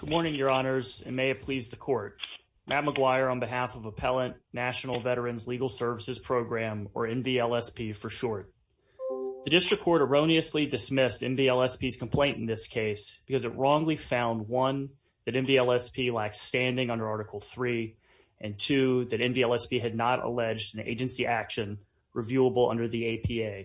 Good morning, Your Honors, and may it please the Court. Matt McGuire on behalf of Appellant National Veterans Legal Services Program, or NVLSP for short. The District Court erroneously dismissed NVLSP's complaint in this case because it wrongly found, one, that NVLSP lacked standing under Article III, and two, that NVLSP had not alleged an agency action reviewable under the APA.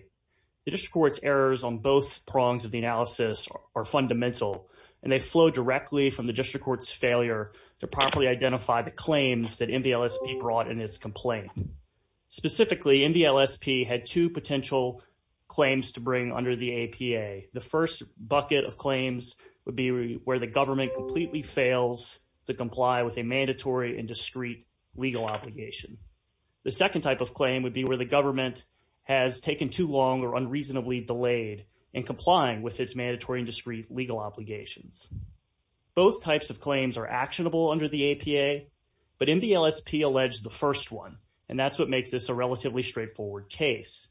The District Court's errors on both prongs of the analysis are fundamental, and they flow directly from the District Court's failure to properly identify the claims that NVLSP brought in its complaint. Specifically, NVLSP had two potential claims to bring under the APA. The first bucket of claims would be where the government completely fails to comply with a mandatory and discreet legal obligation. The second type of claim would be where the government has taken too long or unreasonably delayed in complying with its mandatory and discreet legal obligations. Both types of claims are actionable under the APA, but NVLSP alleged the first one, and that's what makes this a relatively straightforward case.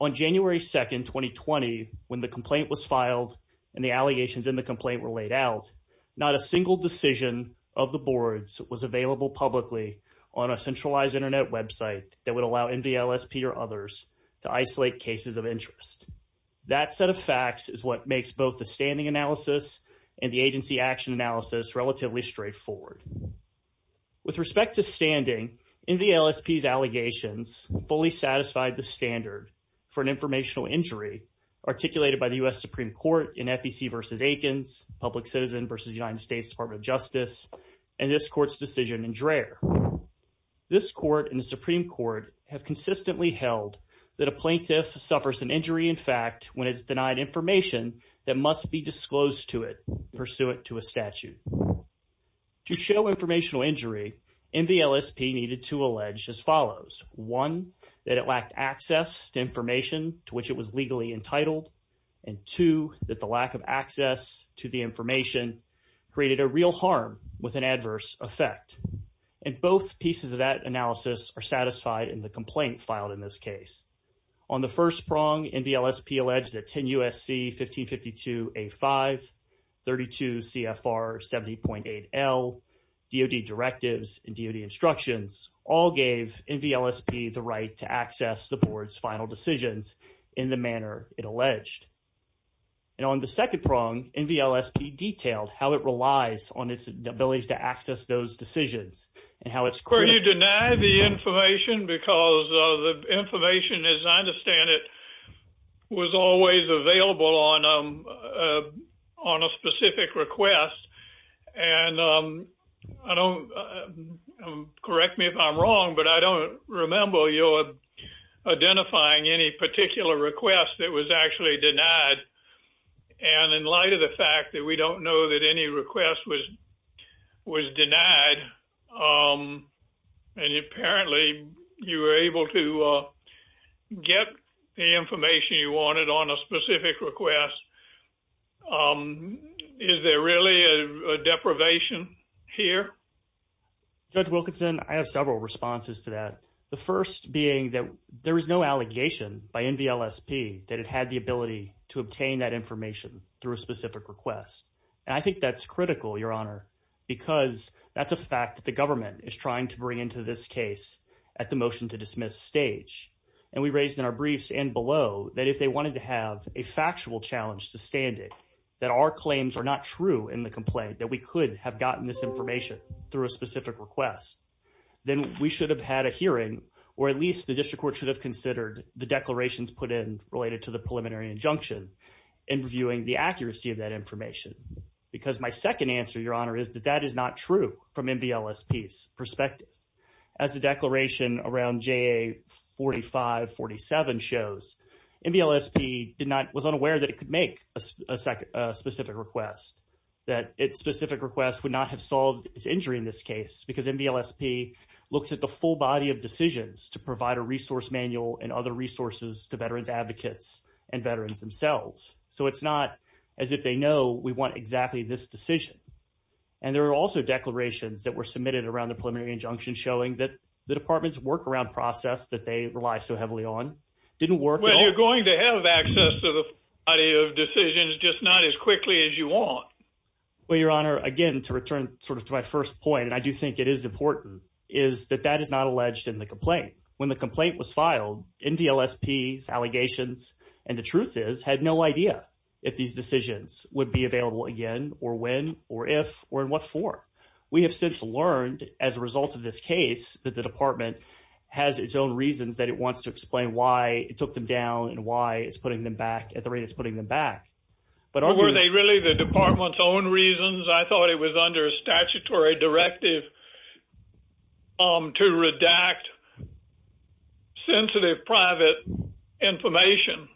On January 2, 2020, when the complaint was filed and the allegations in the complaint were laid out, not a single decision of the boards was available publicly on a centralized Internet website that would allow NVLSP or others to isolate cases of interest. That set of facts is what makes both the standing analysis and the agency action analysis relatively straightforward. With respect to standing, NVLSP's allegations fully satisfied the standard for an informational injury articulated by the U.S. Supreme Court in FEC v. Aikens, Public Citizen v. United States Department of Justice, and this court's decision in Dreher. This court and the Supreme Court have consistently held that a plaintiff suffers an injury in fact when it's denied information that must be disclosed to it pursuant to a statute. To show informational injury, NVLSP needed to allege as follows. One, that it lacked access to information to which it was legally entitled, and two, that the lack of access to the information created a real harm with an adverse effect. And both pieces of that analysis are satisfied in the complaint filed in this case. On the first prong, NVLSP alleged that 10 U.S.C. 1552A5, 32 CFR 70.8L, DOD directives, and DOD instructions all gave NVLSP the right to access the board's final decisions in the manner it alleged. And on the second prong, NVLSP detailed how it relies on its ability to access those decisions and how it's clear. Were you denied the information? Because the information, as I understand it, was always available on a specific request. And correct me if I'm wrong, but I don't remember your identifying any particular request that was actually denied. And in light of the fact that we don't know that any request was denied, and apparently you were able to get the information you wanted on a specific request, is there really a deprivation here? Judge Wilkinson, I have several responses to that. The first being that there is no allegation by NVLSP that it had the ability to obtain that information through a specific request. And I think that's critical, Your Honor, because that's a fact that the government is trying to bring into this case at the motion to dismiss stage. And we raised in our briefs and below that if they wanted to have a factual challenge to stand it, that our claims are not true in the complaint, that we could have gotten this information through a specific request, then we should have had a hearing, or at least the district court should have considered the declarations put in related to the preliminary injunction and reviewing the accuracy of that information. Because my second answer, Your Honor, is that that is not true from NVLSP's perspective. As the declaration around JA4547 shows, NVLSP was unaware that it could make a specific request, that its specific request would not have solved its injury in this case, because NVLSP looks at the full body of decisions to provide a resource manual and other resources to veterans advocates and veterans themselves. So it's not as if they know we want exactly this decision. And there are also declarations that were submitted around the preliminary injunction showing that the department's workaround process that they rely so heavily on didn't work. Well, you're going to have access to the body of decisions, just not as quickly as you want. Well, Your Honor, again, to return sort of to my first point, and I do think it is important, is that that is not alleged in the complaint. When the complaint was filed, NVLSP's allegations, and the truth is, had no idea if these decisions would be available again, or when, or if, or in what form. We have since learned, as a result of this case, that the department has its own reasons that it wants to explain why it took them down, and why it's putting them back at the rate it's putting them back. Were they really the department's own reasons? I thought it was under a statutory directive to redact sensitive private information.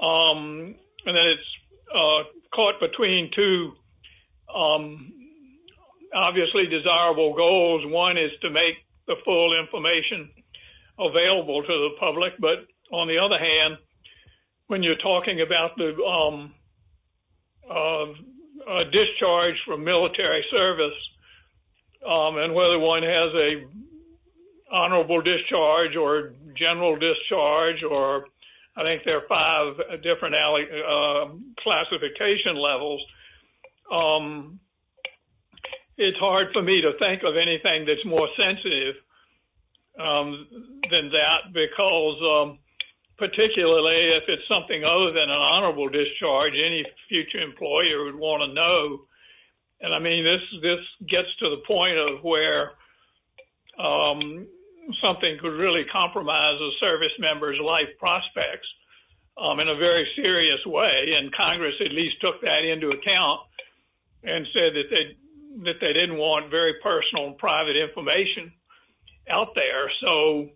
And then it's caught between two obviously desirable goals. One is to make the full information available to the public. But on the other hand, when you're talking about the discharge from military service, and whether one has a honorable discharge, or general discharge, or I think there are five different classification levels, it's hard for me to think of anything that's more sensitive than that, because particularly if it's something other than an honorable discharge, any future employer would want to know. And I mean, this gets to the point of where something could really compromise a service member's life prospects in a very serious way, and Congress at least took that into account and said that they didn't want very personal and private information out there. So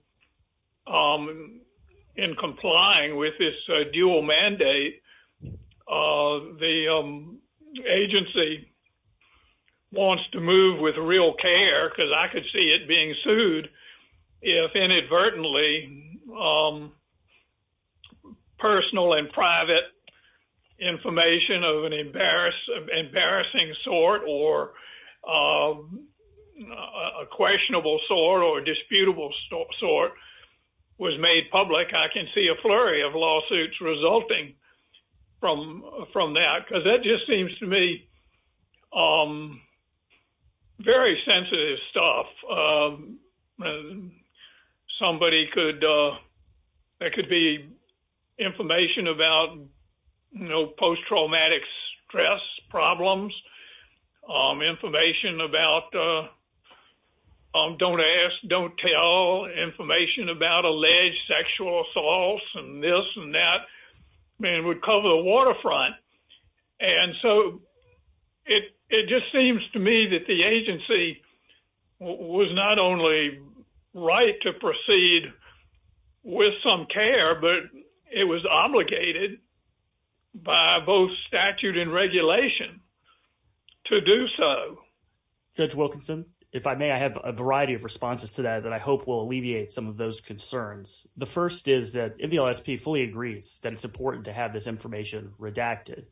in complying with this dual mandate, the agency wants to move with real care, because I could see it being sued, if inadvertently, personal and private information of an embarrassing sort or a questionable sort or disputable sort was made public, I can see a flurry of lawsuits resulting from that, because that just seems to me I'm very sensitive stuff. Somebody could, there could be information about post traumatic stress problems, information about don't ask, don't tell information about alleged sexual assaults, and that would cover the waterfront. And so, it just seems to me that the agency was not only right to proceed with some care, but it was obligated by both statute and regulation to do so. Judge Wilkinson, if I may, I have a variety of responses to that I hope will alleviate some of those concerns. The first is that if the LSP fully agrees that it's important to have this information redacted,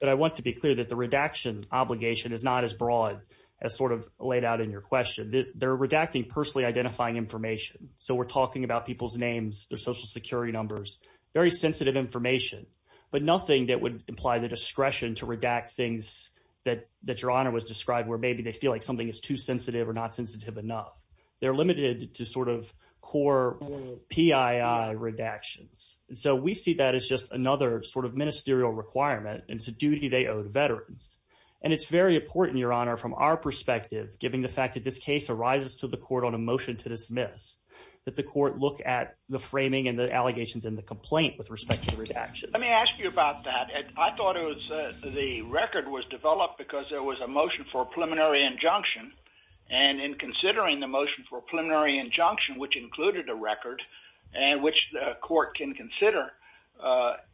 but I want to be clear that the redaction obligation is not as broad as sort of laid out in your question. They're redacting personally identifying information, so we're talking about people's names, their social security numbers, very sensitive information, but nothing that would imply the discretion to redact things that Your Honor was describing where maybe they feel like something is too sensitive or not sensitive enough. They're limited to sort of core PII redactions, and so we see that as just another sort of ministerial requirement, and it's a duty they owe to veterans. And it's very important, Your Honor, from our perspective, given the fact that this case arises to the court on a motion to dismiss, that the court look at the framing and the allegations in the complaint with respect to redactions. Let me ask you about that. I thought it was the record was developed because there was a motion for a preliminary injunction, and in considering the motion for a preliminary injunction, which included a record, and which the court can consider,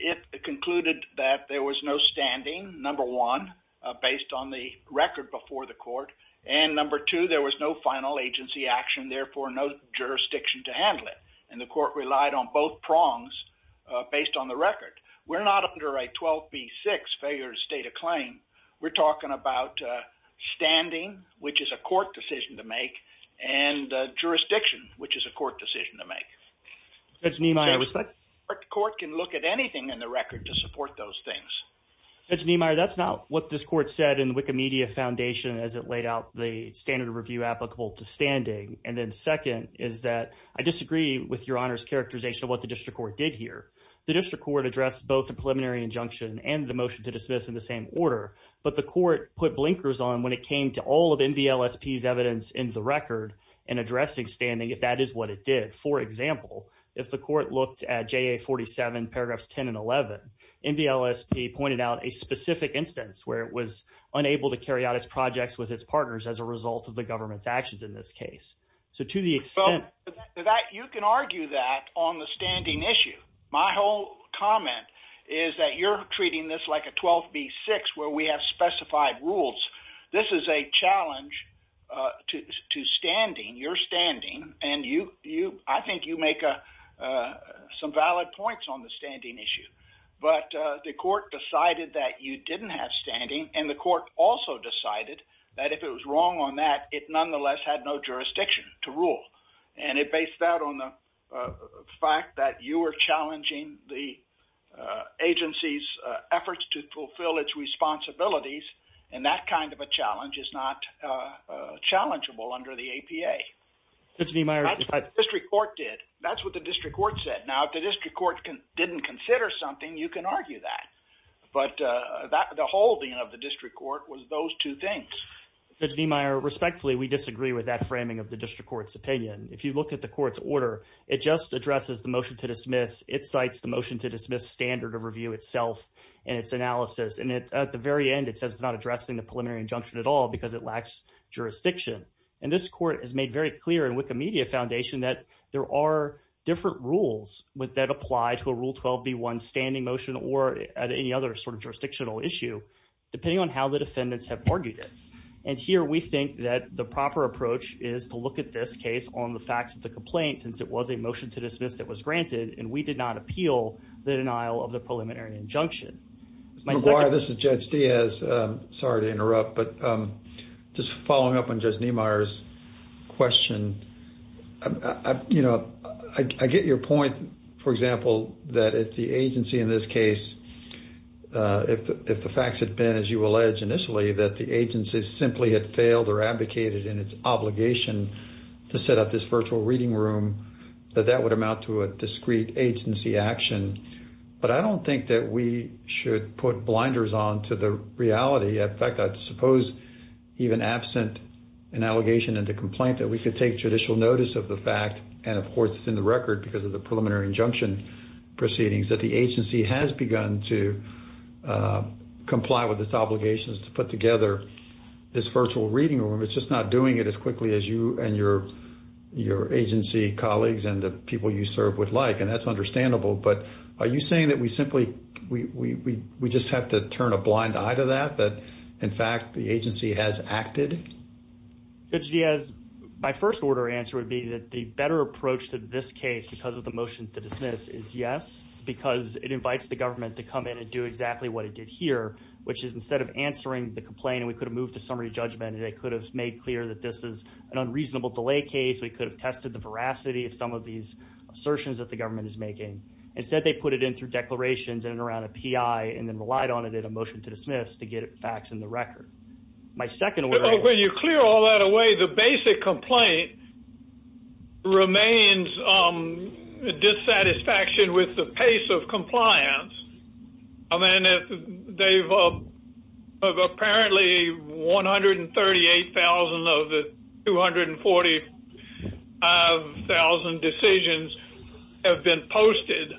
it concluded that there was no standing, number one, based on the record before the court, and number two, there was no final agency action, therefore no jurisdiction to handle it, and the court relied on both prongs based on the record. We're not under a 12B6 failure to state a claim. We're talking about standing, which is a court decision to make, and jurisdiction, which is a court decision to make. Judge Niemeyer, the court can look at anything in the record to support those things. Judge Niemeyer, that's not what this court said in the Wikimedia Foundation as it laid out the standard of review applicable to standing, and then second is that I disagree with your honor's characterization of what the district court did here. The district court addressed both the preliminary injunction and the motion to dismiss in the same order, but the court put blinkers on when it came to all of NVLSP's evidence in the record in addressing standing, if that is what it did. For example, if the court looked at JA47 paragraphs 10 and 11, NVLSP pointed out a specific instance where it was unable to carry out its projects with its partners as a result of the government's actions in this case, so to the extent that you can argue that on the standing issue, my whole comment is that you're treating this like a 12B6 where we have specified rules. This is a challenge to standing, your standing, and I think you make some valid points on the standing issue, but the court decided that you didn't have standing, and the court also decided that if it was wrong on that, it nonetheless had no jurisdiction to rule, and it based that on the fact that you were challenging the agency's efforts to fulfill its responsibilities, and that kind of a challenge is not challengeable under the APA. Judge Niemeyer, if I... District court did. That's what the district court said. Now, if the district court didn't consider something, you can argue that, but the holding of the district court was those two things. Judge Niemeyer, respectfully, we disagree with that framing of the district court's opinion. If you look at the court's order, it just addresses the motion to dismiss. It cites the motion to dismiss standard of review itself and its analysis, and at the very end, it says it's not addressing the preliminary injunction at all because it lacks jurisdiction, and this court has made very clear in Wikimedia Foundation that there are different rules that apply to a Rule 12B1 standing motion or at any other sort of jurisdictional issue depending on the defendants have argued it, and here we think that the proper approach is to look at this case on the facts of the complaint since it was a motion to dismiss that was granted, and we did not appeal the denial of the preliminary injunction. Mr. McGuire, this is Judge Diaz. Sorry to interrupt, but just following up on Judge Niemeyer's question, I get your point, for example, that if the agency in this case, if the facts had been, as you allege initially, that the agency simply had failed or advocated in its obligation to set up this virtual reading room, that that would amount to a discrete agency action, but I don't think that we should put blinders on to the reality. In fact, I suppose even absent an allegation and a complaint that we could take judicial notice of the fact, and of course, it's in the record because of the preliminary injunction, proceedings that the agency has begun to comply with its obligations to put together this virtual reading room. It's just not doing it as quickly as you and your agency colleagues and the people you serve would like, and that's understandable, but are you saying that we simply, we just have to turn a blind eye to that, that in fact the agency has acted? Judge Diaz, my first order answer would be that the better approach to this case because of the motion to dismiss is yes, because it invites the government to come in and do exactly what it did here, which is instead of answering the complaint, we could have moved to summary judgment and they could have made clear that this is an unreasonable delay case. We could have tested the veracity of some of these assertions that the government is making. Instead, they put it in through declarations and around a PI and then relied on it in a motion to dismiss to get facts in the record. My second order. When you clear all that away, the basic complaint remains dissatisfaction with the pace of compliance. I mean, they've apparently 138,000 of the 245,000 decisions have been posted.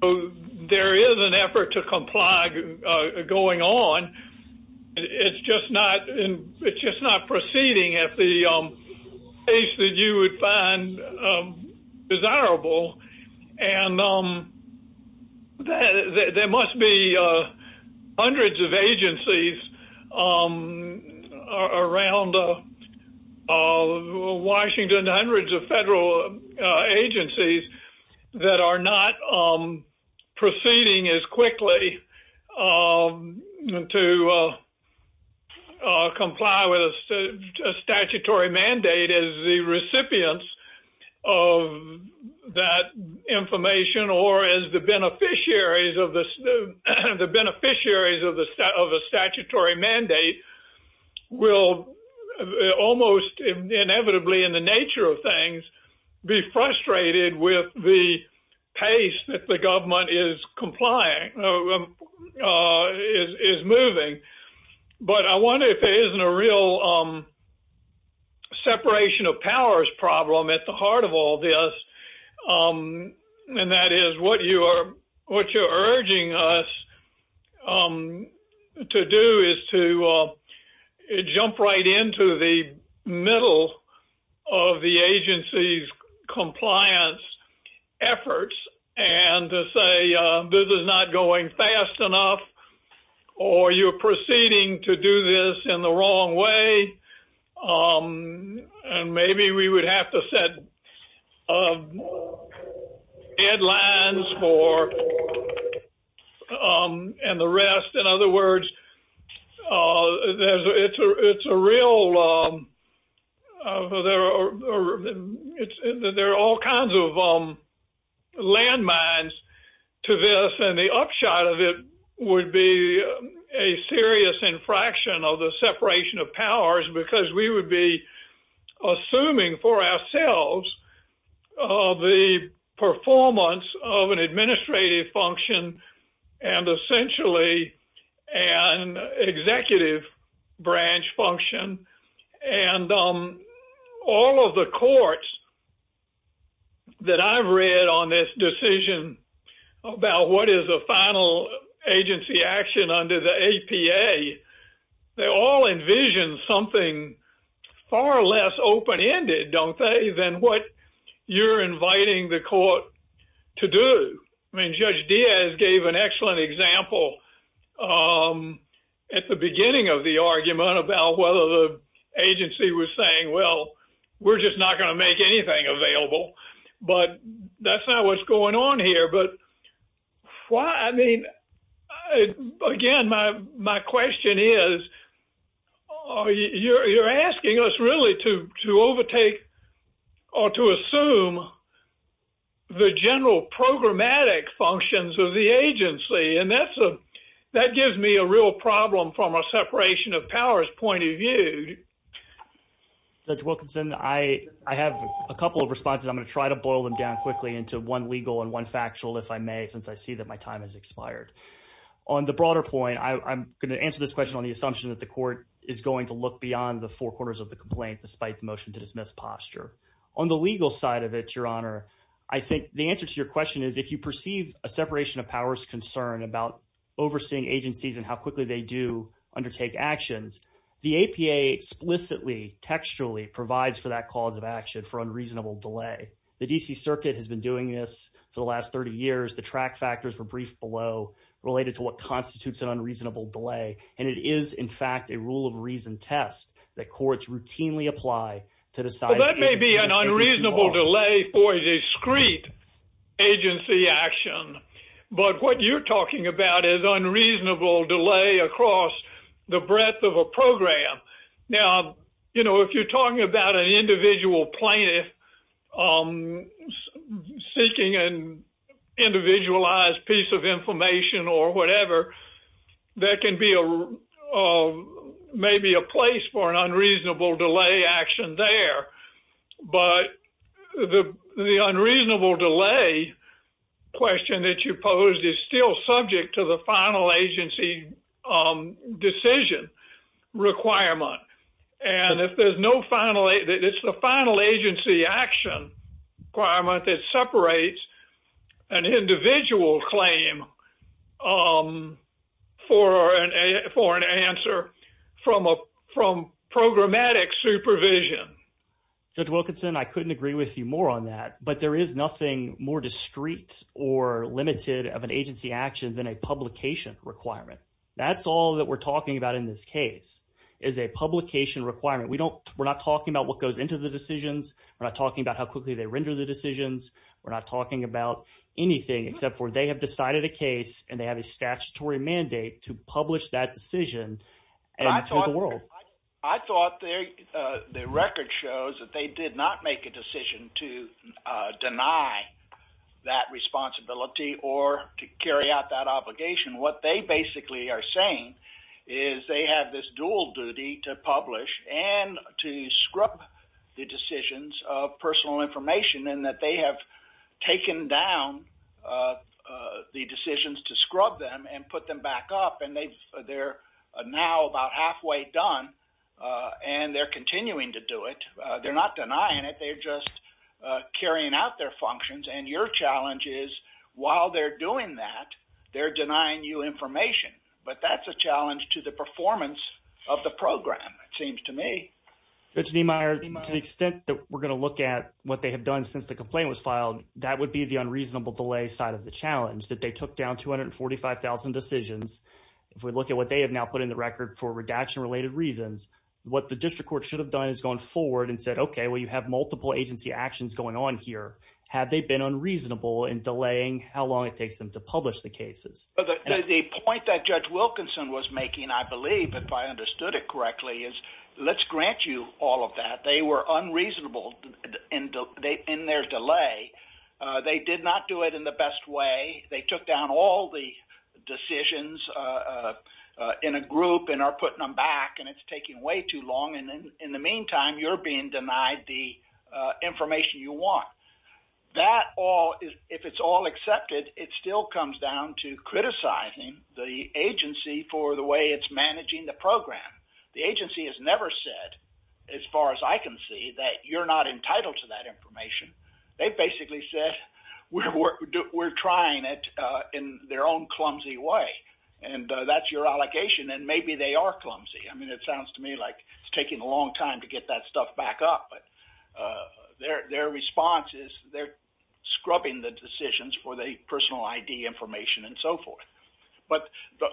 So there is an effort to comply going on. It's just not proceeding at the pace that you would find desirable. And there must be hundreds of agencies around Washington, hundreds of federal agencies that are not proceeding as quickly to comply with a statutory mandate as the recipients of that information or as the beneficiaries of the beneficiaries of the statutory mandate will almost inevitably, in the nature of things, be frustrated with the pace that the government is moving. But I wonder if there isn't a real separation of powers problem at the heart of all this. And that is what you're urging us to do is to jump right into the middle of the agency's compliance efforts and say, this is not going fast enough, or you're proceeding to do this in the form of deadlines and the rest. In other words, there are all kinds of landmines to this and the upshot of it would be a serious infraction of the separation of powers because we would be of the performance of an administrative function and essentially an executive branch function. And all of the courts that I've read on this decision about what is a final agency action under the APA, they all envision something far less open ended, don't they, than what you're inviting the court to do. I mean, Judge Diaz gave an excellent example at the beginning of the argument about whether the agency was saying, well, we're just not going to my question is, you're asking us really to overtake or to assume the general programmatic functions of the agency. And that gives me a real problem from a separation of powers point of view. Judge Wilkinson, I have a couple of responses. I'm going to try to boil them down quickly into one legal and one factual, if I may, since I see that my time has expired. On the broader point, I'm going to answer this question on the assumption that the court is going to look beyond the four corners of the complaint, despite the motion to dismiss posture. On the legal side of it, Your Honor, I think the answer to your question is if you perceive a separation of powers concern about overseeing agencies and how quickly they do undertake actions, the APA explicitly textually provides for that cause of action for unreasonable delay. The D.C. Circuit has been doing this for the last 30 years. The track factors were briefed below related to what constitutes an unreasonable delay. And it is, in fact, a rule of reason test that courts routinely apply to decide. That may be an unreasonable delay for a discreet agency action. But what you're talking about is unreasonable delay across the breadth of a court seeking an individualized piece of information or whatever. There can be maybe a place for an unreasonable delay action there. But the unreasonable delay question that you posed is still subject to the final agency decision requirement. And if there's no final, it's the final agency action requirement that separates an individual claim for an answer from programmatic supervision. Judge Wilkinson, I couldn't agree with you more on that. But there is nothing more discreet or limited of an agency action than a publication requirement. That's all that we're talking about. We're not talking about what goes into the decisions. We're not talking about how quickly they render the decisions. We're not talking about anything except for they have decided a case and they have a statutory mandate to publish that decision. I thought the record shows that they did not make a decision to deny that responsibility or to carry out that obligation. What they basically are saying is they have this dual duty to publish and to scrub the decisions of personal information and that they have taken down the decisions to scrub them and put them back up. And they're now about halfway done and they're continuing to do it. They're not denying it. They're just carrying out their functions. And your challenge is while they're doing that, they're denying you information. But that's a challenge to the performance of the program, it seems to me. Judge Niemeyer, to the extent that we're going to look at what they have done since the complaint was filed, that would be the unreasonable delay side of the challenge that they took down 245,000 decisions. If we look at what they have now put in the record for redaction related reasons, what the district court should have done is gone forward and said, okay, well, you have multiple agency actions going on here. Have they been unreasonable in delaying how long it takes them to publish the cases? The point that Judge Wilkinson was making, I believe, if I understood it correctly, is let's grant you all of that. They were unreasonable in their delay. They did not do it in the best way. They took down all the decisions in a group and are putting them back and it's taking way too long. And in the meantime, you're being denied the comes down to criticizing the agency for the way it's managing the program. The agency has never said, as far as I can see, that you're not entitled to that information. They basically said, we're trying it in their own clumsy way. And that's your allegation. And maybe they are clumsy. I mean, it sounds to me like it's taking a long time to get that stuff back up. But their response is they're scrubbing the decisions for the personal ID information and so forth. But the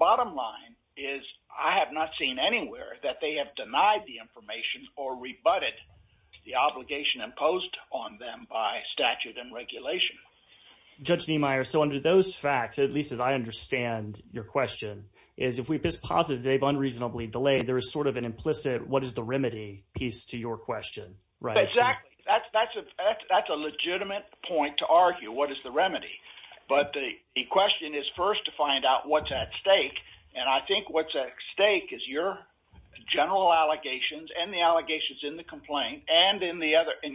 bottom line is I have not seen anywhere that they have denied the information or rebutted the obligation imposed on them by statute and regulation. Judge Niemeyer, so under those facts, at least as I understand your question, is if we just posit that they've unreasonably delayed, there is sort of an implicit, what is the remedy piece to your question, right? Exactly. That's a legitimate point to argue. What is the remedy? But the question is first to find out what's at stake. And I think what's at stake is your general allegations and the allegations in the complaint and in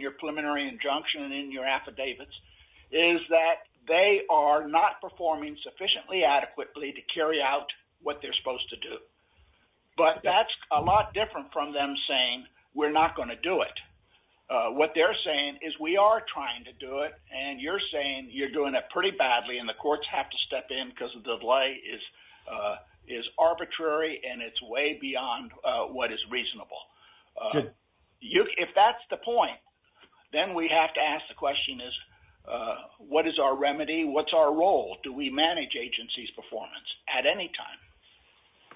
your preliminary injunction and in your affidavits is that they are not performing sufficiently adequately to carry out what they're supposed to do. But that's a lot different from them saying we're not going to do it. What they're saying is we are trying to do it and you're saying you're doing it pretty badly and the courts have to step in because the delay is arbitrary and it's way beyond what is reasonable. If that's the point, then we have to ask the question is what is our remedy? What's our role? Do we manage agency's performance at any time?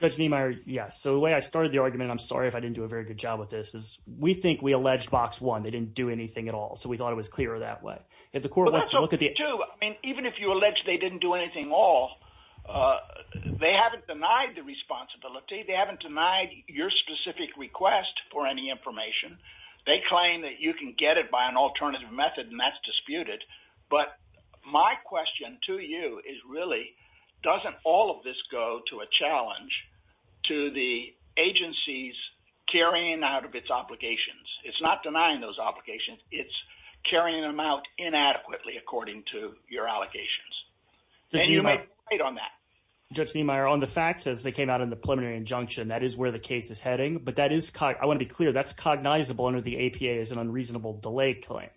Judge Niemeyer, yes. So the way I started the argument, I'm sorry if I didn't do a very good job with this, is we think we alleged box one, they didn't do anything at all. So we thought it was clearer that way. If the court wants to look at the... But that's okay too. I mean, even if you allege they didn't do anything at all, they haven't denied the responsibility. They haven't denied your specific request for any information. They claim that you can get it by an alternative method and that's disputed. But my question to you is really, doesn't all of this go to a challenge to the agency's carrying out of its obligations? It's not denying those obligations, it's carrying them out inadequately according to your allocations. And you may be right on that. Judge Niemeyer, on the facts as they came out in the preliminary injunction, that is where the case is heading. But that is... I want to be clear, that's cognizable under the APA as an unreasonable delay claim.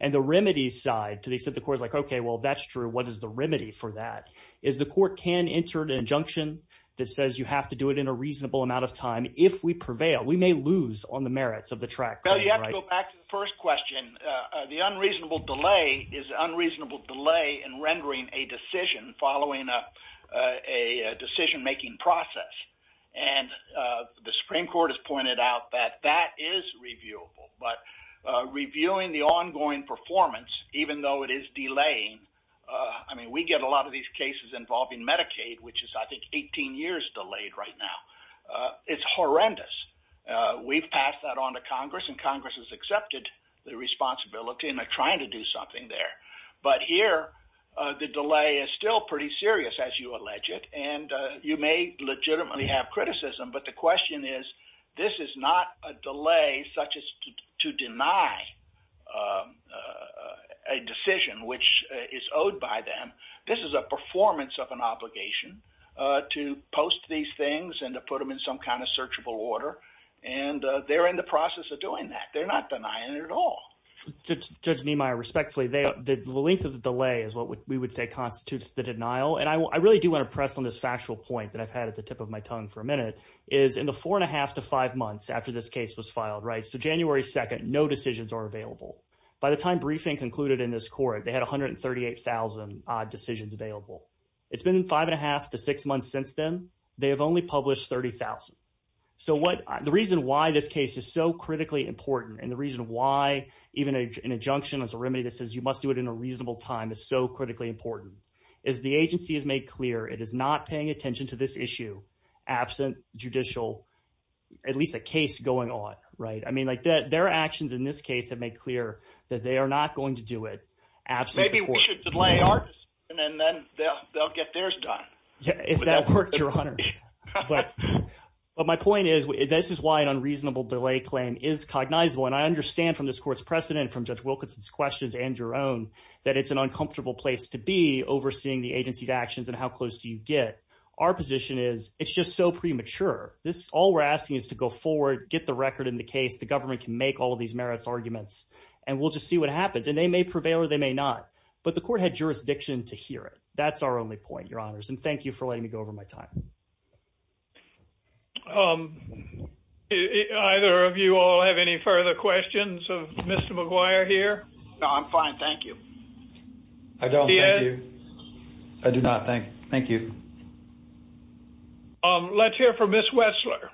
And the remedy side, to the extent the court is like, okay, well, that's true. What is the remedy for that? Is the court can enter an injunction that says you have to do it in a reasonable amount of time if we prevail. We may lose on the merits of the track claim, right? Well, you have to go back to the first question. The unreasonable delay is unreasonable delay in rendering a decision following a decision-making process. And the Supreme Court has pointed out that that is reviewable. But reviewing the ongoing performance, even though it is delaying, I mean, we get a lot of these cases involving Medicaid, which is, I think, 18 years delayed right now. It's horrendous. We've passed that on to Congress and Congress has accepted the responsibility and they're trying to do something there. But here, the delay is still pretty serious as you allege it. And you may legitimately have criticism, but the question is, this is not a delay such as to deny a decision which is owed by them. This is a performance of an obligation to post these things and to put them in some kind of searchable order. And they're in the process of doing that. They're not denying it at all. Judge Niemeyer, respectfully, the length of the delay is what we would say constitutes the denial. And I really do want to press on this factual point that I've had at the tip of my tongue. So January 2nd, no decisions are available. By the time briefing concluded in this court, they had 138,000 odd decisions available. It's been five and a half to six months since then. They have only published 30,000. So the reason why this case is so critically important and the reason why even an injunction is a remedy that says you must do it in a reasonable time is so critically important is the agency has made clear it is not paying attention to this issue absent judicial, at least a case going on. I mean, their actions in this case have made clear that they are not going to do it absent the court. Maybe we should delay our decision and then they'll get theirs done. If that works, Your Honor. But my point is this is why an unreasonable delay claim is cognizable. And I understand from this court's precedent, from Judge Wilkinson's questions and your own, that it's an uncomfortable place to be overseeing the agency's actions and how close do you get? Our position is it's just so premature. This, all we're asking is to go forward, get the record in the case. The government can make all of these merits arguments and we'll just see what happens. And they may prevail or they may not. But the court had jurisdiction to hear it. That's our only point, Your Honors. And thank you for letting me go over my time. Um, either of you all have any further questions of Mr. McGuire here? No, I'm fine. Thank you. I don't. Thank you. I do not. Thank you. Um, let's hear from Ms. Wetzler.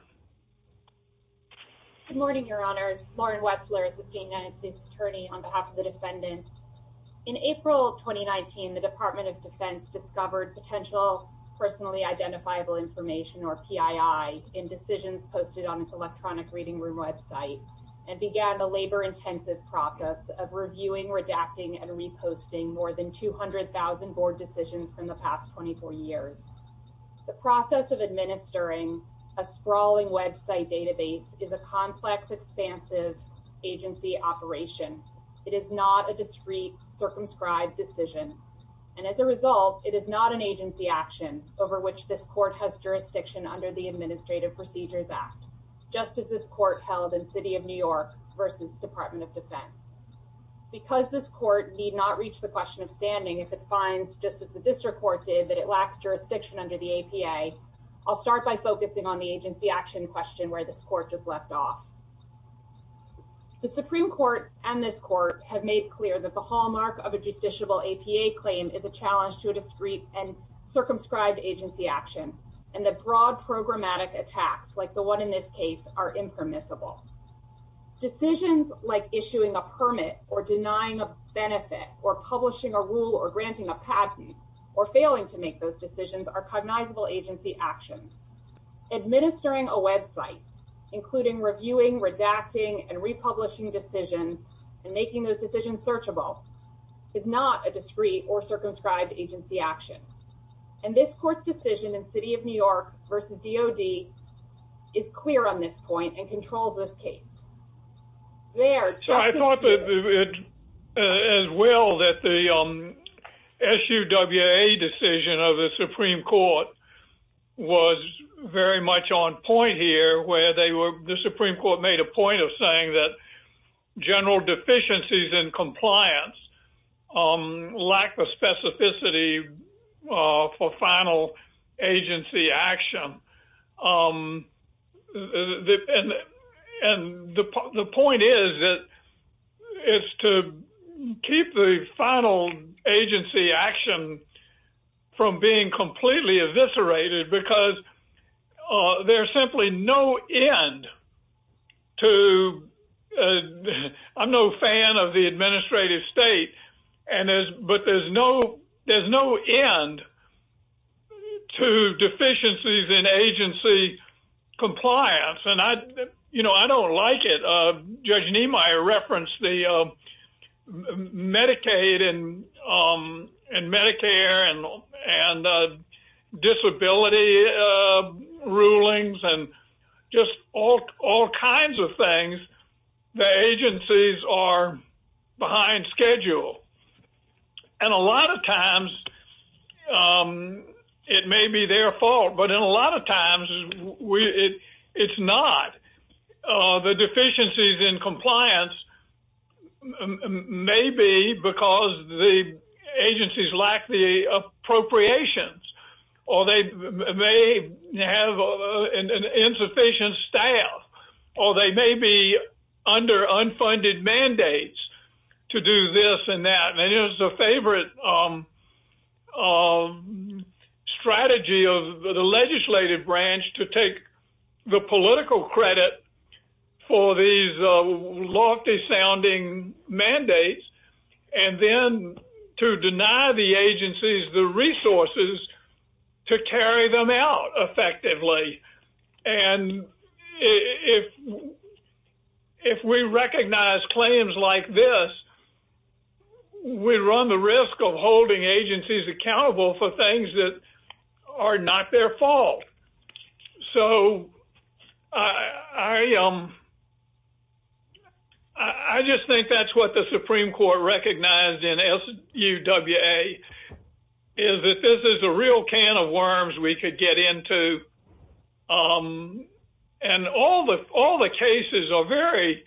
Good morning, Your Honors. Lauren Wetzler, Assisting United States Attorney on behalf of the defendants. In April of 2019, the Department of Defense discovered potential personally identifiable information or PII in decisions posted on its electronic reading room website and began the labor intensive process of reviewing, redacting and reposting more than 200,000 board decisions from the past 24 years. The process of administering a sprawling website database is a complex, expansive agency operation. It is not a discrete circumscribed decision. And as a result, it is not an agency action over which this court has jurisdiction under the Administrative Procedures Act, just as this court held in City of New York versus Department of Defense. Because this court need not reach the question of standing if it finds just as the district court did, that it lacks jurisdiction under the APA. I'll start by focusing on the agency action question where this court just left off. The Supreme Court and this court have made clear that the hallmark of a justiciable APA claim is a challenge to a discrete and broad programmatic attacks like the one in this case are impermissible. Decisions like issuing a permit or denying a benefit or publishing a rule or granting a patent or failing to make those decisions are cognizable agency actions. Administering a website, including reviewing, redacting and republishing decisions and making those decisions searchable is not a discrete or versus DOD is clear on this point and controls this case. So I thought as well that the SUWA decision of the Supreme Court was very much on point here where they were, the Supreme Court made a point of saying that general deficiencies in compliance, lack of specificity for final agency action. And the point is that it's to keep the final agency action from being completely eviscerated because there's simply no end to, I'm no fan of the administrative state, but there's no end to deficiencies in agency compliance. And I don't like it. Judge Niemeyer referenced the in Medicare and disability rulings and just all kinds of things, the agencies are behind schedule. And a lot of times it may be their fault, but in a lot of times it's not. The deficiencies in agencies lack the appropriations or they may have an insufficient staff or they may be under unfunded mandates to do this and that. And it was a favorite strategy of the legislative branch to take the political credit for these lofty sounding mandates and then to deny the agencies the resources to carry them out effectively. And if we recognize claims like this, we run the risk of holding agencies accountable for things that are not their fault. So I just think that's what the Supreme Court recognized in SUWA is that this is a real can of worms we could get into. And all the cases are very,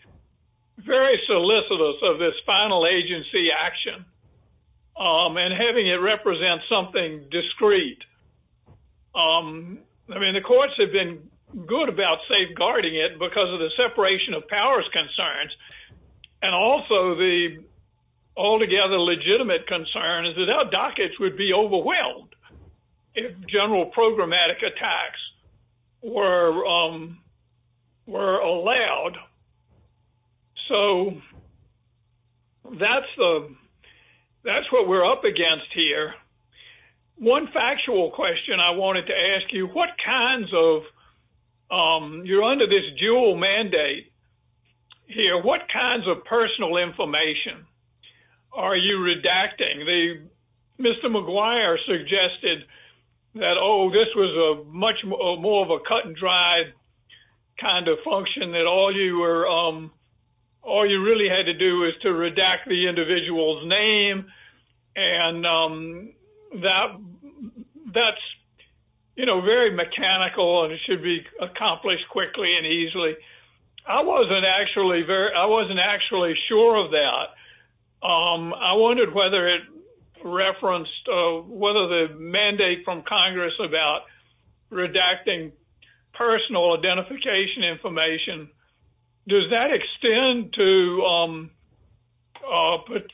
very solicitous of this final agency action and having it represent something discreet. I mean, the courts have been good about safeguarding it because of the separation of powers concerns. And also the altogether legitimate concern is that our dockets would be overwhelmed if general programmatic attacks were allowed. So that's what we're up against here. One factual question I wanted to ask you, what kinds of, you're under this dual mandate here, what kinds of personal information are you redacting? Mr. McGuire suggested that, oh, this was a much more of a cut and dry kind of function that all you were, all you really had to do is to redact the individual's name. And that's, you know, very mechanical and it should be accomplished quickly and easily. I wasn't actually sure of that. I wondered whether it referenced whether the mandate from Congress about redacting personal identification information, does that extend to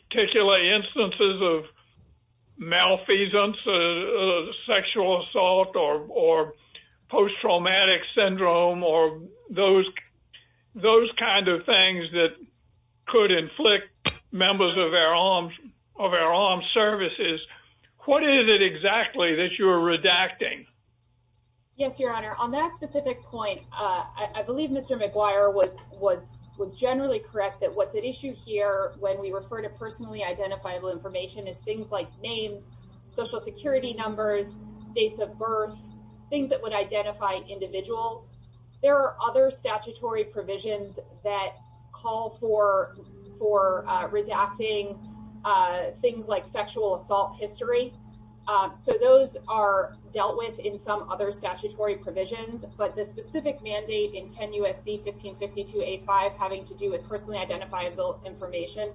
particular instances of malfeasance, sexual assault, or post-traumatic syndrome, or those kind of things that could inflict members of our armed services. What is it exactly that you're redacting? Yes, your honor, on that specific point, I believe Mr. McGuire was generally correct that what's at issue here when we refer to personally identifiable information is things like names, social security numbers, dates of birth, things that would identify individuals. There are other statutory provisions that call for redacting things like sexual assault history. So those are dealt with in some other statutory provisions, but the specific mandate in 10 USC 1552A5 having to do with personally identifiable information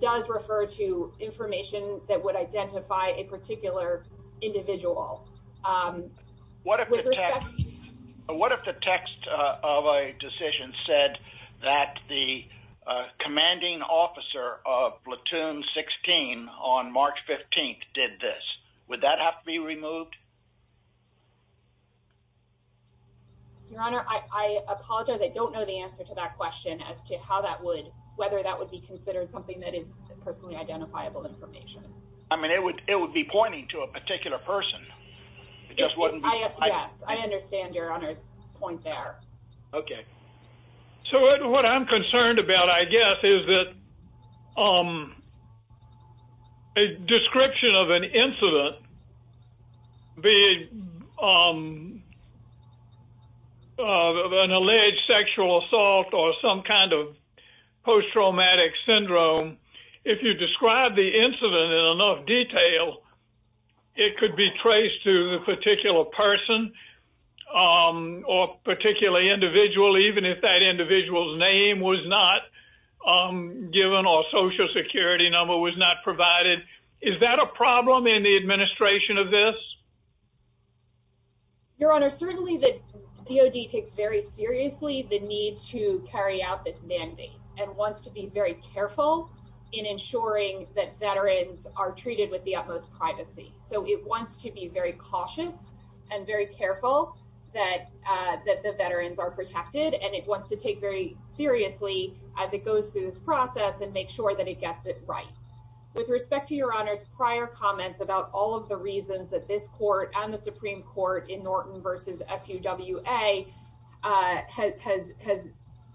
does refer to information that would identify a particular individual. What if the text of a decision said that the commanding officer of platoon 16 on March 15th did this, would that have to be removed? Your honor, I apologize, I don't know the answer to that question as to how that would, whether that would be considered something that is personally identifiable information. I mean, it would be pointing to a particular person. Yes, I understand your honor's point there. Okay, so what I'm concerned about, I guess, is that a description of an incident, be it an alleged sexual assault or some kind of post-traumatic syndrome, if you describe the incident in enough detail, it could be traced to a particular person or particularly individual, even if that individual's name was not given or social security number was not provided. Is that a problem in the administration of this? Your honor, certainly the DOD takes very seriously the need to carry out this mandate and wants to be very careful in ensuring that veterans are treated with the utmost privacy. So it wants to be very cautious and very careful that the veterans are protected, and it wants to take very seriously as it goes through this process and make sure that it gets it right. With respect to your honor's prior comments about all of the reasons that this court and the Supreme Court in Norton versus SUWA has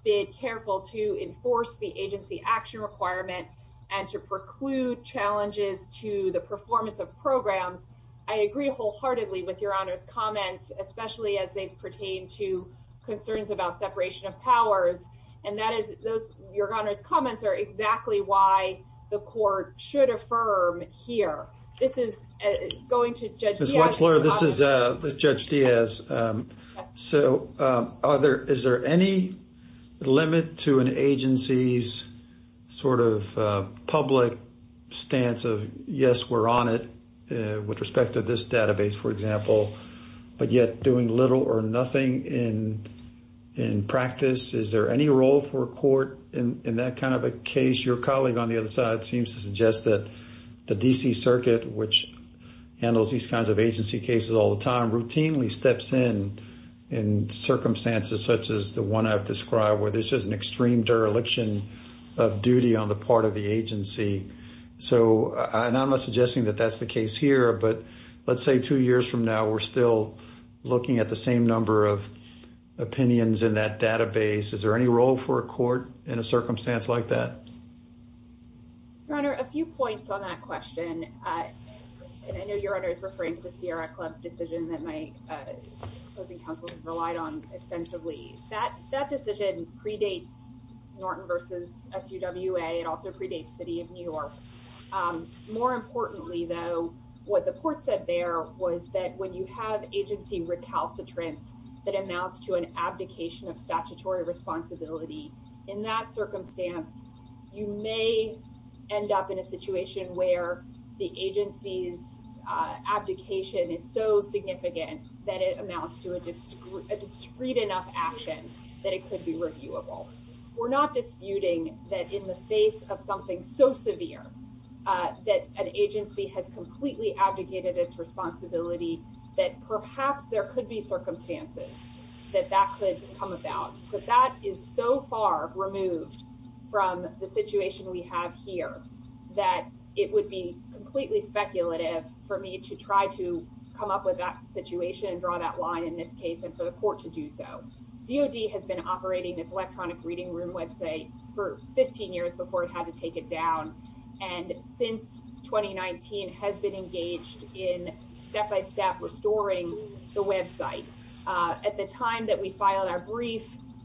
been careful to enforce the agency action requirement and to preclude challenges to the performance of programs, I agree wholeheartedly with your honor's comments, especially as they pertain to concerns about separation of powers. And your honor's comments are exactly why the court should affirm here. This is going to Judge Diaz. So is there any limit to an agency's sort of public stance of, yes, we're on it with respect to this database, for example, but yet doing little or nothing in practice? Is there any role for a court in that kind of a case? Your colleague on the other side seems to suggest that DC Circuit, which handles these kinds of agency cases all the time, routinely steps in in circumstances such as the one I've described, where there's just an extreme dereliction of duty on the part of the agency. So I'm not suggesting that that's the case here, but let's say two years from now, we're still looking at the same number of opinions in that database. Is there any role for a court in a circumstance like that? Your honor, a few points on that question. And I know your honor is referring to the Sierra Club decision that my closing counsel has relied on extensively. That decision predates Norton versus SUWA. It also predates City of New York. More importantly, though, what the court said there was that when you have agency recalcitrance that amounts to an abdication of statutory responsibility, in that circumstance, you may end up in a situation where the agency's abdication is so significant that it amounts to a discreet enough action that it could be reviewable. We're not disputing that in the face of something so severe that an agency has completely abdicated its responsibility, that perhaps there could be that is so far removed from the situation we have here that it would be completely speculative for me to try to come up with that situation and draw that line in this case and for the court to do so. DoD has been operating this electronic reading room website for 15 years before it had to take it down. And since 2019 has been engaged in step-by-step restoring the website. At the time we filed our brief,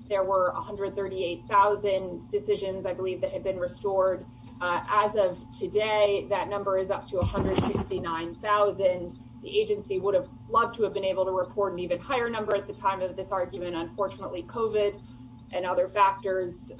there were 138,000 decisions, I believe, that had been restored. As of today, that number is up to 169,000. The agency would have loved to have been able to report an even higher number at the time of this argument. Unfortunately, COVID and other factors,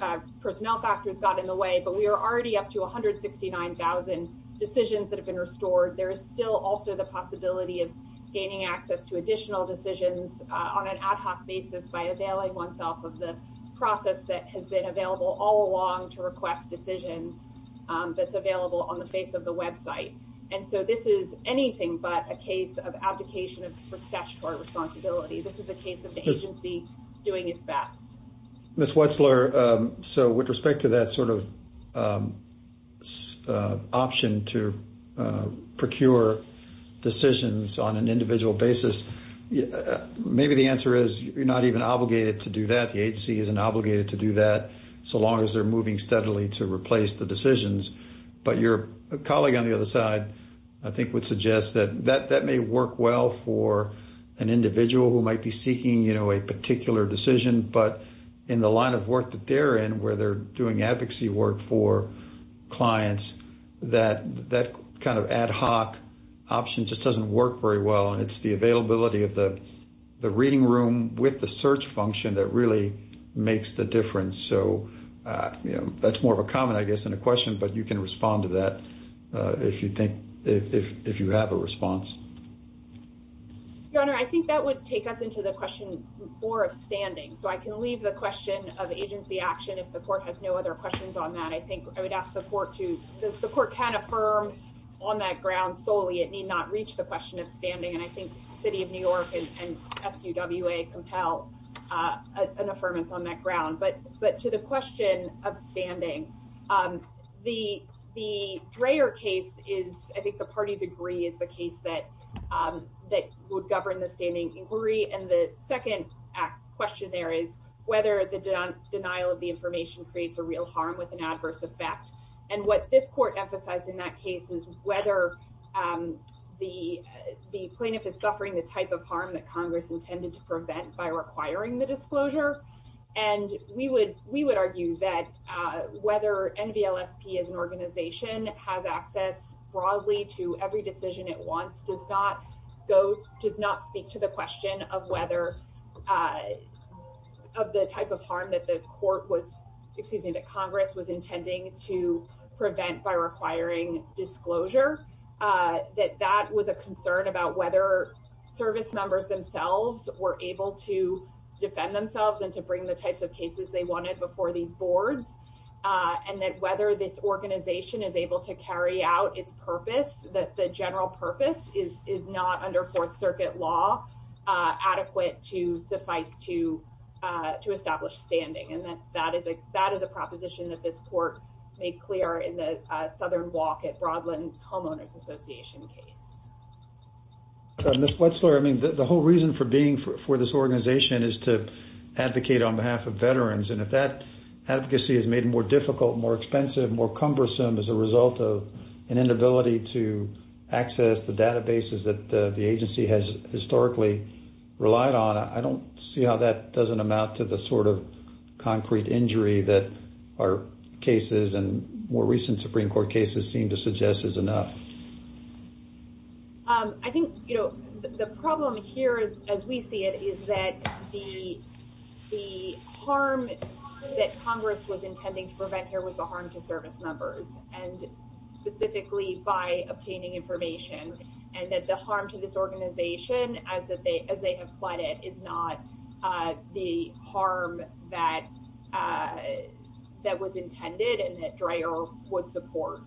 personnel factors, got in the way. But we are already up to 169,000 decisions that have been restored. There is still also the possibility of gaining access to additional decisions on an ad hoc basis by availing oneself of the process that has been available all along to request decisions that's available on the face of the website. And so this is anything but a case of abdication of statutory responsibility. This is a case of the agency doing its best. Ms. Wetzler, so with respect to that sort of option to procure decisions on an individual basis, maybe the answer is you're not even obligated to do that. The agency isn't obligated to do that so long as they're moving steadily to replace the decisions. But your colleague on the other side, I think, would suggest that that may work well for an individual who might be seeking a particular decision. But in the line of work that they're in, where they're doing advocacy work for clients, that kind of ad hoc option just doesn't work very well. And it's the availability of the reading room with the search function that really makes the difference. So that's more of a comment, I guess, than a question. But you can respond to that if you have a response. Your Honor, I think that would take us into the question more of standing. So I can leave the question of agency action if the court has no other questions on that. I think I would ask the court to, the court can affirm on that ground solely it need not reach the question of standing. And I think City of New York and SUWA compel an affirmance on that ground. But to the question of standing, the Dreher case is, I think the parties agree, is the case that would govern the standing inquiry. And the second question there is whether the denial of the information creates a real harm with an adverse effect. And what this court emphasized in that case is whether the plaintiff is suffering the type of harm that Congress intended to prevent by requiring the disclosure. And we would argue that whether NVLSP as an organization has access broadly to every decision it wants does not go, does not speak to the question of whether of the type of harm that the court was, excuse me, that Congress was intending to that that was a concern about whether service members themselves were able to defend themselves and to bring the types of cases they wanted before these boards. And that whether this organization is able to carry out its purpose, that the general purpose is not under Fourth Circuit law adequate to suffice to establish standing. And that is a proposition that this case. Ms. Wetzler, I mean, the whole reason for being for this organization is to advocate on behalf of veterans. And if that advocacy is made more difficult, more expensive, more cumbersome as a result of an inability to access the databases that the agency has historically relied on, I don't see how that doesn't amount to the sort of concrete injury that our cases and more recent Supreme Court cases seem to suggest is enough. I think, you know, the problem here, as we see it, is that the harm that Congress was intending to prevent here was the harm to service members, and specifically by obtaining information, and that the harm to this organization as they have it is not the harm that was intended and that DREA would support.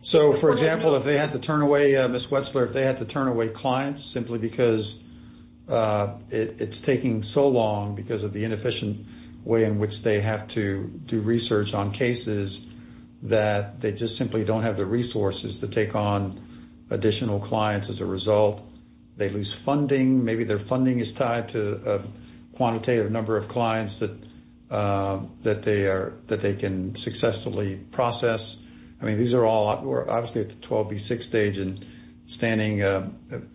So, for example, if they had to turn away, Ms. Wetzler, if they had to turn away clients simply because it's taking so long because of the inefficient way in which they have to do research on cases that they just simply don't have the resources to take on additional clients as a result of this, and they lose funding, maybe their funding is tied to a quantitative number of clients that they can successfully process. I mean, these are all obviously at the 12B6 stage, and standing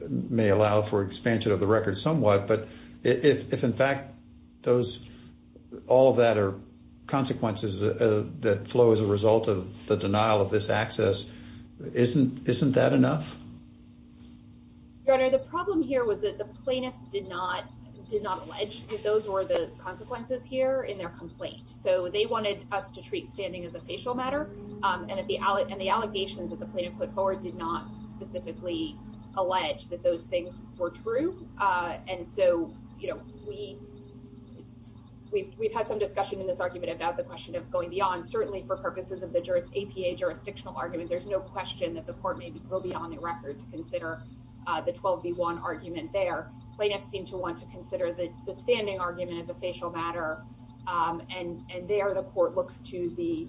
may allow for expansion of the record somewhat, but if in fact all of that are consequences that flow as a result of the denial of this access, isn't that enough? Your Honor, the problem here was that the plaintiff did not allege that those were the consequences here in their complaint, so they wanted us to treat standing as a facial matter, and the allegations that the plaintiff put forward did not specifically allege that those things were true, and so, you know, we've had some discussion in this argument about the question of going beyond, certainly for purposes of the APA jurisdictional argument, there's no question that the court may go beyond the record to consider the 12B1 argument there. Plaintiffs seem to want to consider the standing argument as a facial matter, and there the court looks to the,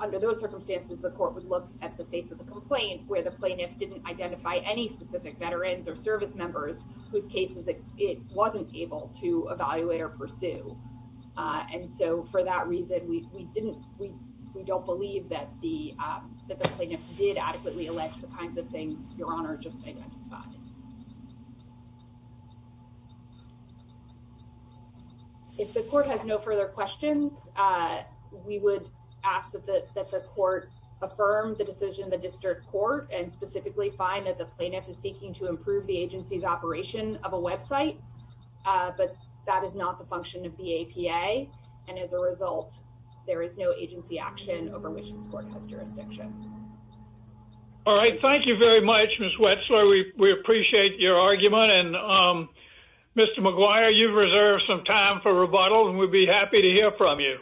under those circumstances, the court would look at the face of the complaint where the plaintiff didn't identify any specific veterans or service members whose cases it wasn't able to evaluate or pursue, and so for that reason, we didn't, we don't believe that the that the plaintiff did adequately allege the kinds of things Your Honor just identified. If the court has no further questions, we would ask that the court affirm the decision of the district court and specifically find that the plaintiff is seeking to improve the agency's of a website, but that is not the function of the APA, and as a result, there is no agency action over which this court has jurisdiction. All right, thank you very much, Ms. Wetzler. We appreciate your argument, and Mr. McGuire, you've reserved some time for rebuttal, and we'd be happy to hear from you.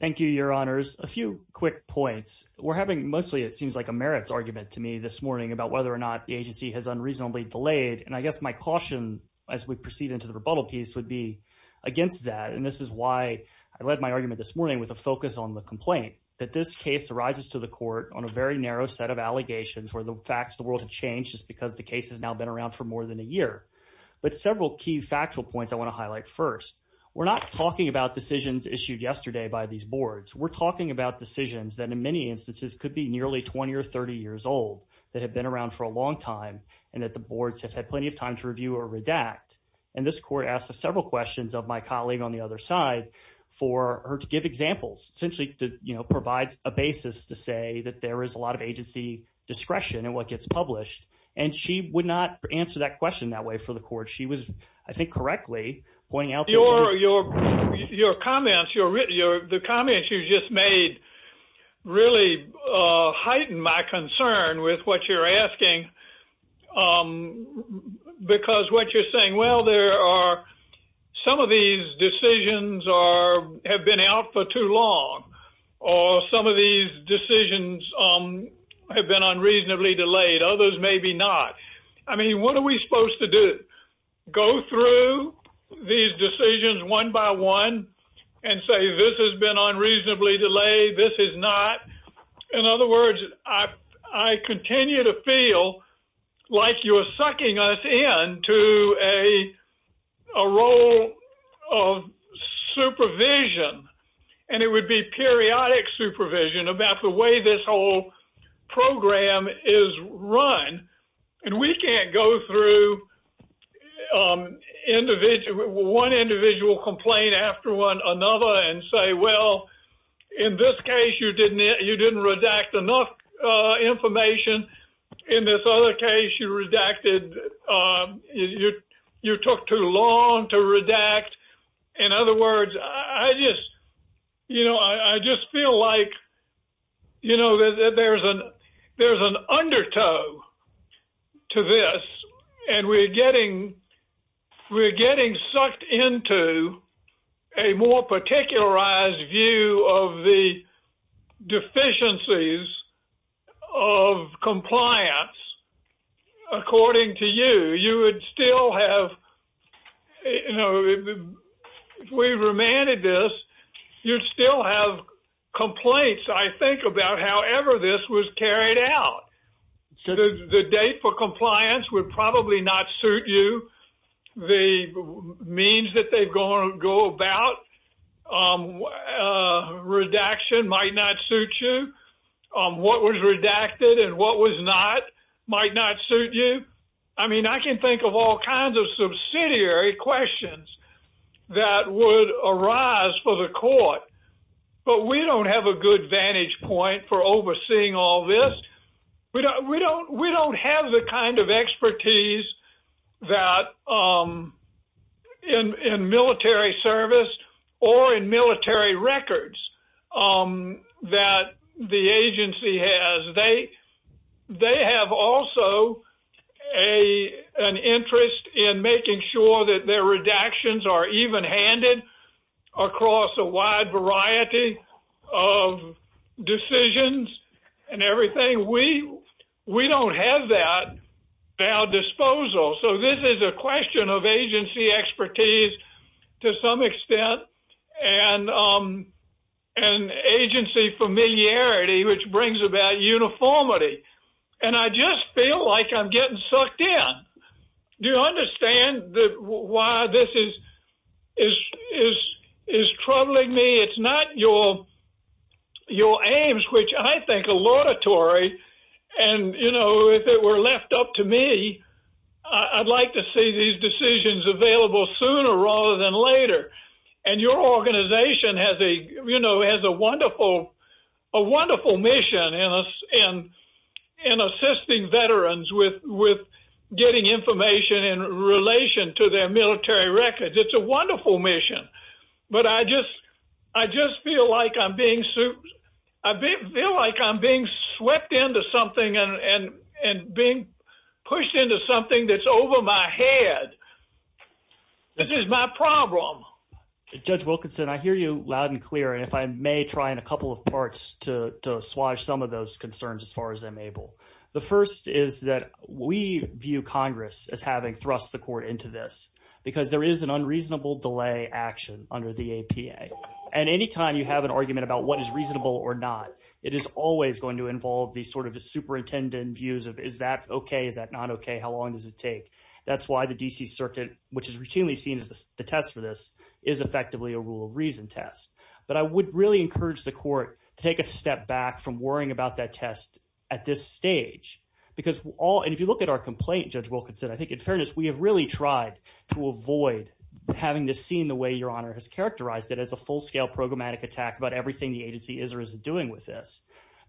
Thank you, Your Honors. A few quick points. We're having mostly, it seems like, a merits argument to me this morning about whether or not the agency has unreasonably delayed, and I guess my caution as we proceed into the rebuttal piece would be against that, and this is why I led my argument this morning with a focus on the complaint, that this case arises to the court on a very narrow set of allegations where the facts of the world have changed just because the case has now been around for more than a year, but several key factual points I want to highlight first. We're not talking about decisions issued yesterday by these boards. We're talking about decisions that in many instances could be nearly 20 or 30 years old that have been around for a long time, and that the boards have had plenty of time to review or redact, and this court asked several questions of my colleague on the other side for her to give examples, essentially to, you know, provide a basis to say that there is a lot of agency discretion in what gets published, and she would not answer that question that way for the court. She was, I think, correctly pointing out your comments, the comments you just made really heighten my concern with what you're asking because what you're saying, well, there are some of these decisions are have been out for too long, or some of these decisions have been unreasonably delayed, others maybe not. I mean, what are we supposed to do? Go through these decisions one by one and say this has been like you're sucking us into a role of supervision, and it would be periodic supervision about the way this whole program is run, and we can't go through one individual complaint after one another and say, well, in this case, you didn't redact enough information. In this other case, you redacted, you took too long to redact. In other words, I just, you know, I just feel like, you know, there's an undertow to this, and we're getting sucked into a more particularized view of the deficiencies of compliance. According to you, you would still have, you know, if we remanded this, you'd still have complaints, I think, about however this was carried out. The date for action might not suit you. What was redacted and what was not might not suit you. I mean, I can think of all kinds of subsidiary questions that would arise for the court, but we don't have a good vantage point for overseeing all this. We don't have the kind of expertise that in military service or in military records that the agency has. They have also an interest in making sure that their redactions are even-handed across a wide variety of decisions and everything. We don't have that at our disposal. So this is a question of agency expertise, to some extent, and agency familiarity, which brings about uniformity. And I just feel like I'm getting sucked in. Do you understand why this is troubling me? It's not your aims, which I think are laudatory and, you know, if it were left up to me, I'd like to see these decisions available sooner rather than later. And your organization has a, you know, has a wonderful mission in assisting veterans with getting information in relation to their military records. It's a wonderful mission. But I just feel like I'm being swept into something and being pushed into something that's over my head. This is my problem. Judge Wilkinson, I hear you loud and clear, and if I may try in a couple of parts to swash some of those concerns as far as I'm able. The first is that we view Congress as having thrust the court into this because there is an under the APA. And any time you have an argument about what is reasonable or not, it is always going to involve the sort of superintendent views of is that okay, is that not okay, how long does it take? That's why the D.C. Circuit, which is routinely seen as the test for this, is effectively a rule of reason test. But I would really encourage the court to take a step back from worrying about that test at this stage. Because all, and if you look at our complaint, Judge Wilkinson, I think in fairness, we have really tried to avoid having this seen the way your honor has characterized it as a full-scale programmatic attack about everything the agency is or isn't doing with this.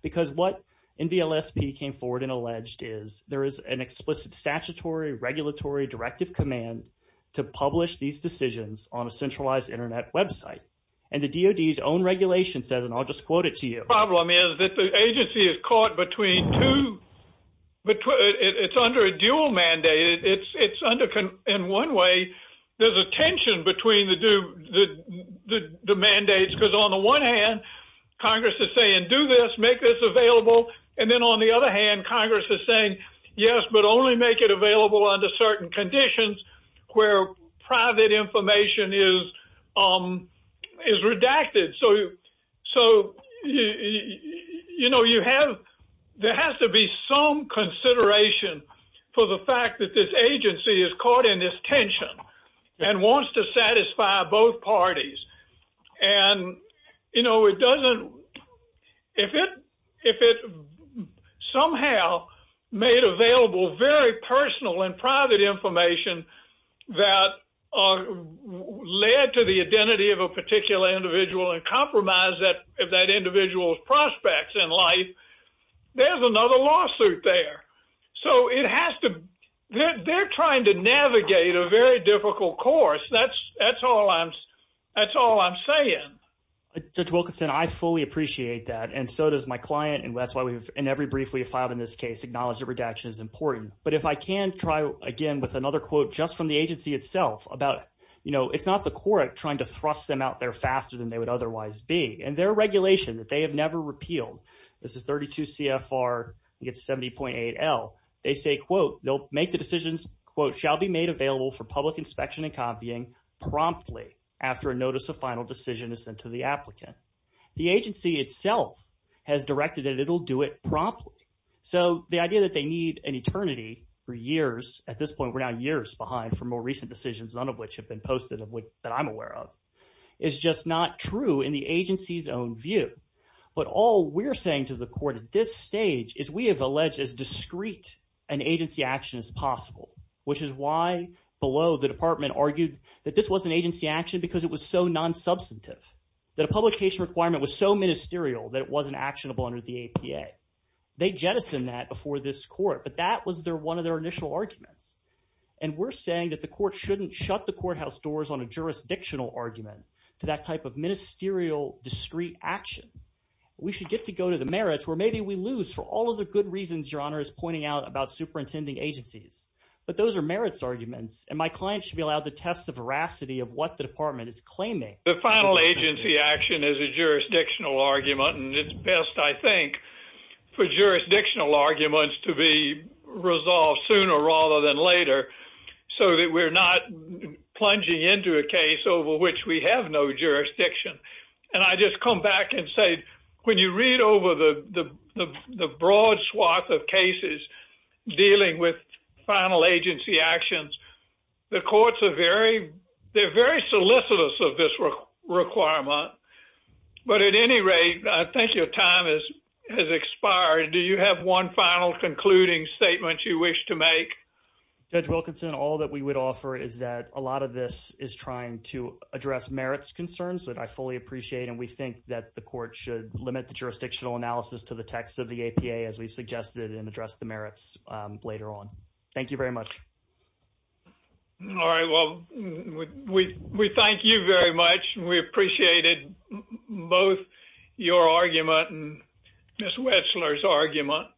Because what NVLSP came forward and alleged is there is an explicit statutory regulatory directive command to publish these decisions on a centralized internet website. And the DOD's own regulation says, and I'll just quote it to you, The problem is that the agency is caught between two, it's under a dual mandate. It's under, in one way, there's a tension between the mandates. Because on the one hand, Congress is saying, do this, make this available. And then on the other hand, Congress is saying, yes, but only make it available under certain conditions where private information is redacted. So, you know, you have, there has to be some consideration for the fact that this agency is caught in this tension and wants to satisfy both parties. And, you know, it doesn't, if it somehow made available very personal and private information that led to the identity of a particular individual and compromise that individual's prospects in life, there's another lawsuit there. So it has to, they're trying to navigate a very difficult course. That's all I'm, that's all I'm saying. Judge Wilkinson, I fully appreciate that. And so does my client. And that's why we've, in every brief we've filed in this case, acknowledged that redaction is important. But if I can try again with another quote, just from the agency itself about, you know, it's not the court trying to thrust them out there faster than they would otherwise be. And their regulation that they have never repealed, this is 32 CFR against 70.8L. They say, quote, they'll make the decisions, quote, shall be made available for public inspection and copying promptly after a notice of final decision is sent to the applicant. The agency itself has directed that it'll do it promptly. So the idea that they need an eternity for years, at this point, we're now years behind for more recent decisions, none of which have been posted that I'm aware of, is just not true in the agency's own view. But all we're saying to the court at this stage is we have alleged as discreet an agency action as possible, which is why below the department argued that this was an agency action because it was so non-substantive, that a publication requirement was so ministerial that it wasn't actionable under the APA. They jettisoned that before this court, but that was their one of their initial arguments. And we're saying that the court shouldn't shut the courthouse doors on a jurisdictional argument to that type of ministerial discreet action. We should get to go to the merits where maybe we lose for all of the good reasons your honor is pointing out about superintending agencies. But those are merits arguments, and my client should be allowed to test the veracity of what the department is claiming. The final agency action is a jurisdictional argument, and it's best I think for jurisdictional arguments to be resolved sooner rather than later so that we're not plunging into a case over which we have no jurisdiction. And I just come back and say, when you read over the broad swath of cases dealing with final agency actions, the courts are very solicitous of this requirement. But at any rate, I think your time has expired. Do you have one final concluding statement you wish to make? Judge Wilkinson, all that we would offer is that a lot of this is trying to address merits concerns that I fully appreciate, and we think that the court should limit the jurisdictional analysis to the text of the APA as we suggested and address the merits later on. Thank you very much. All right. Well, we thank you very much. We appreciated both your argument and Ms. Wetzler's argument.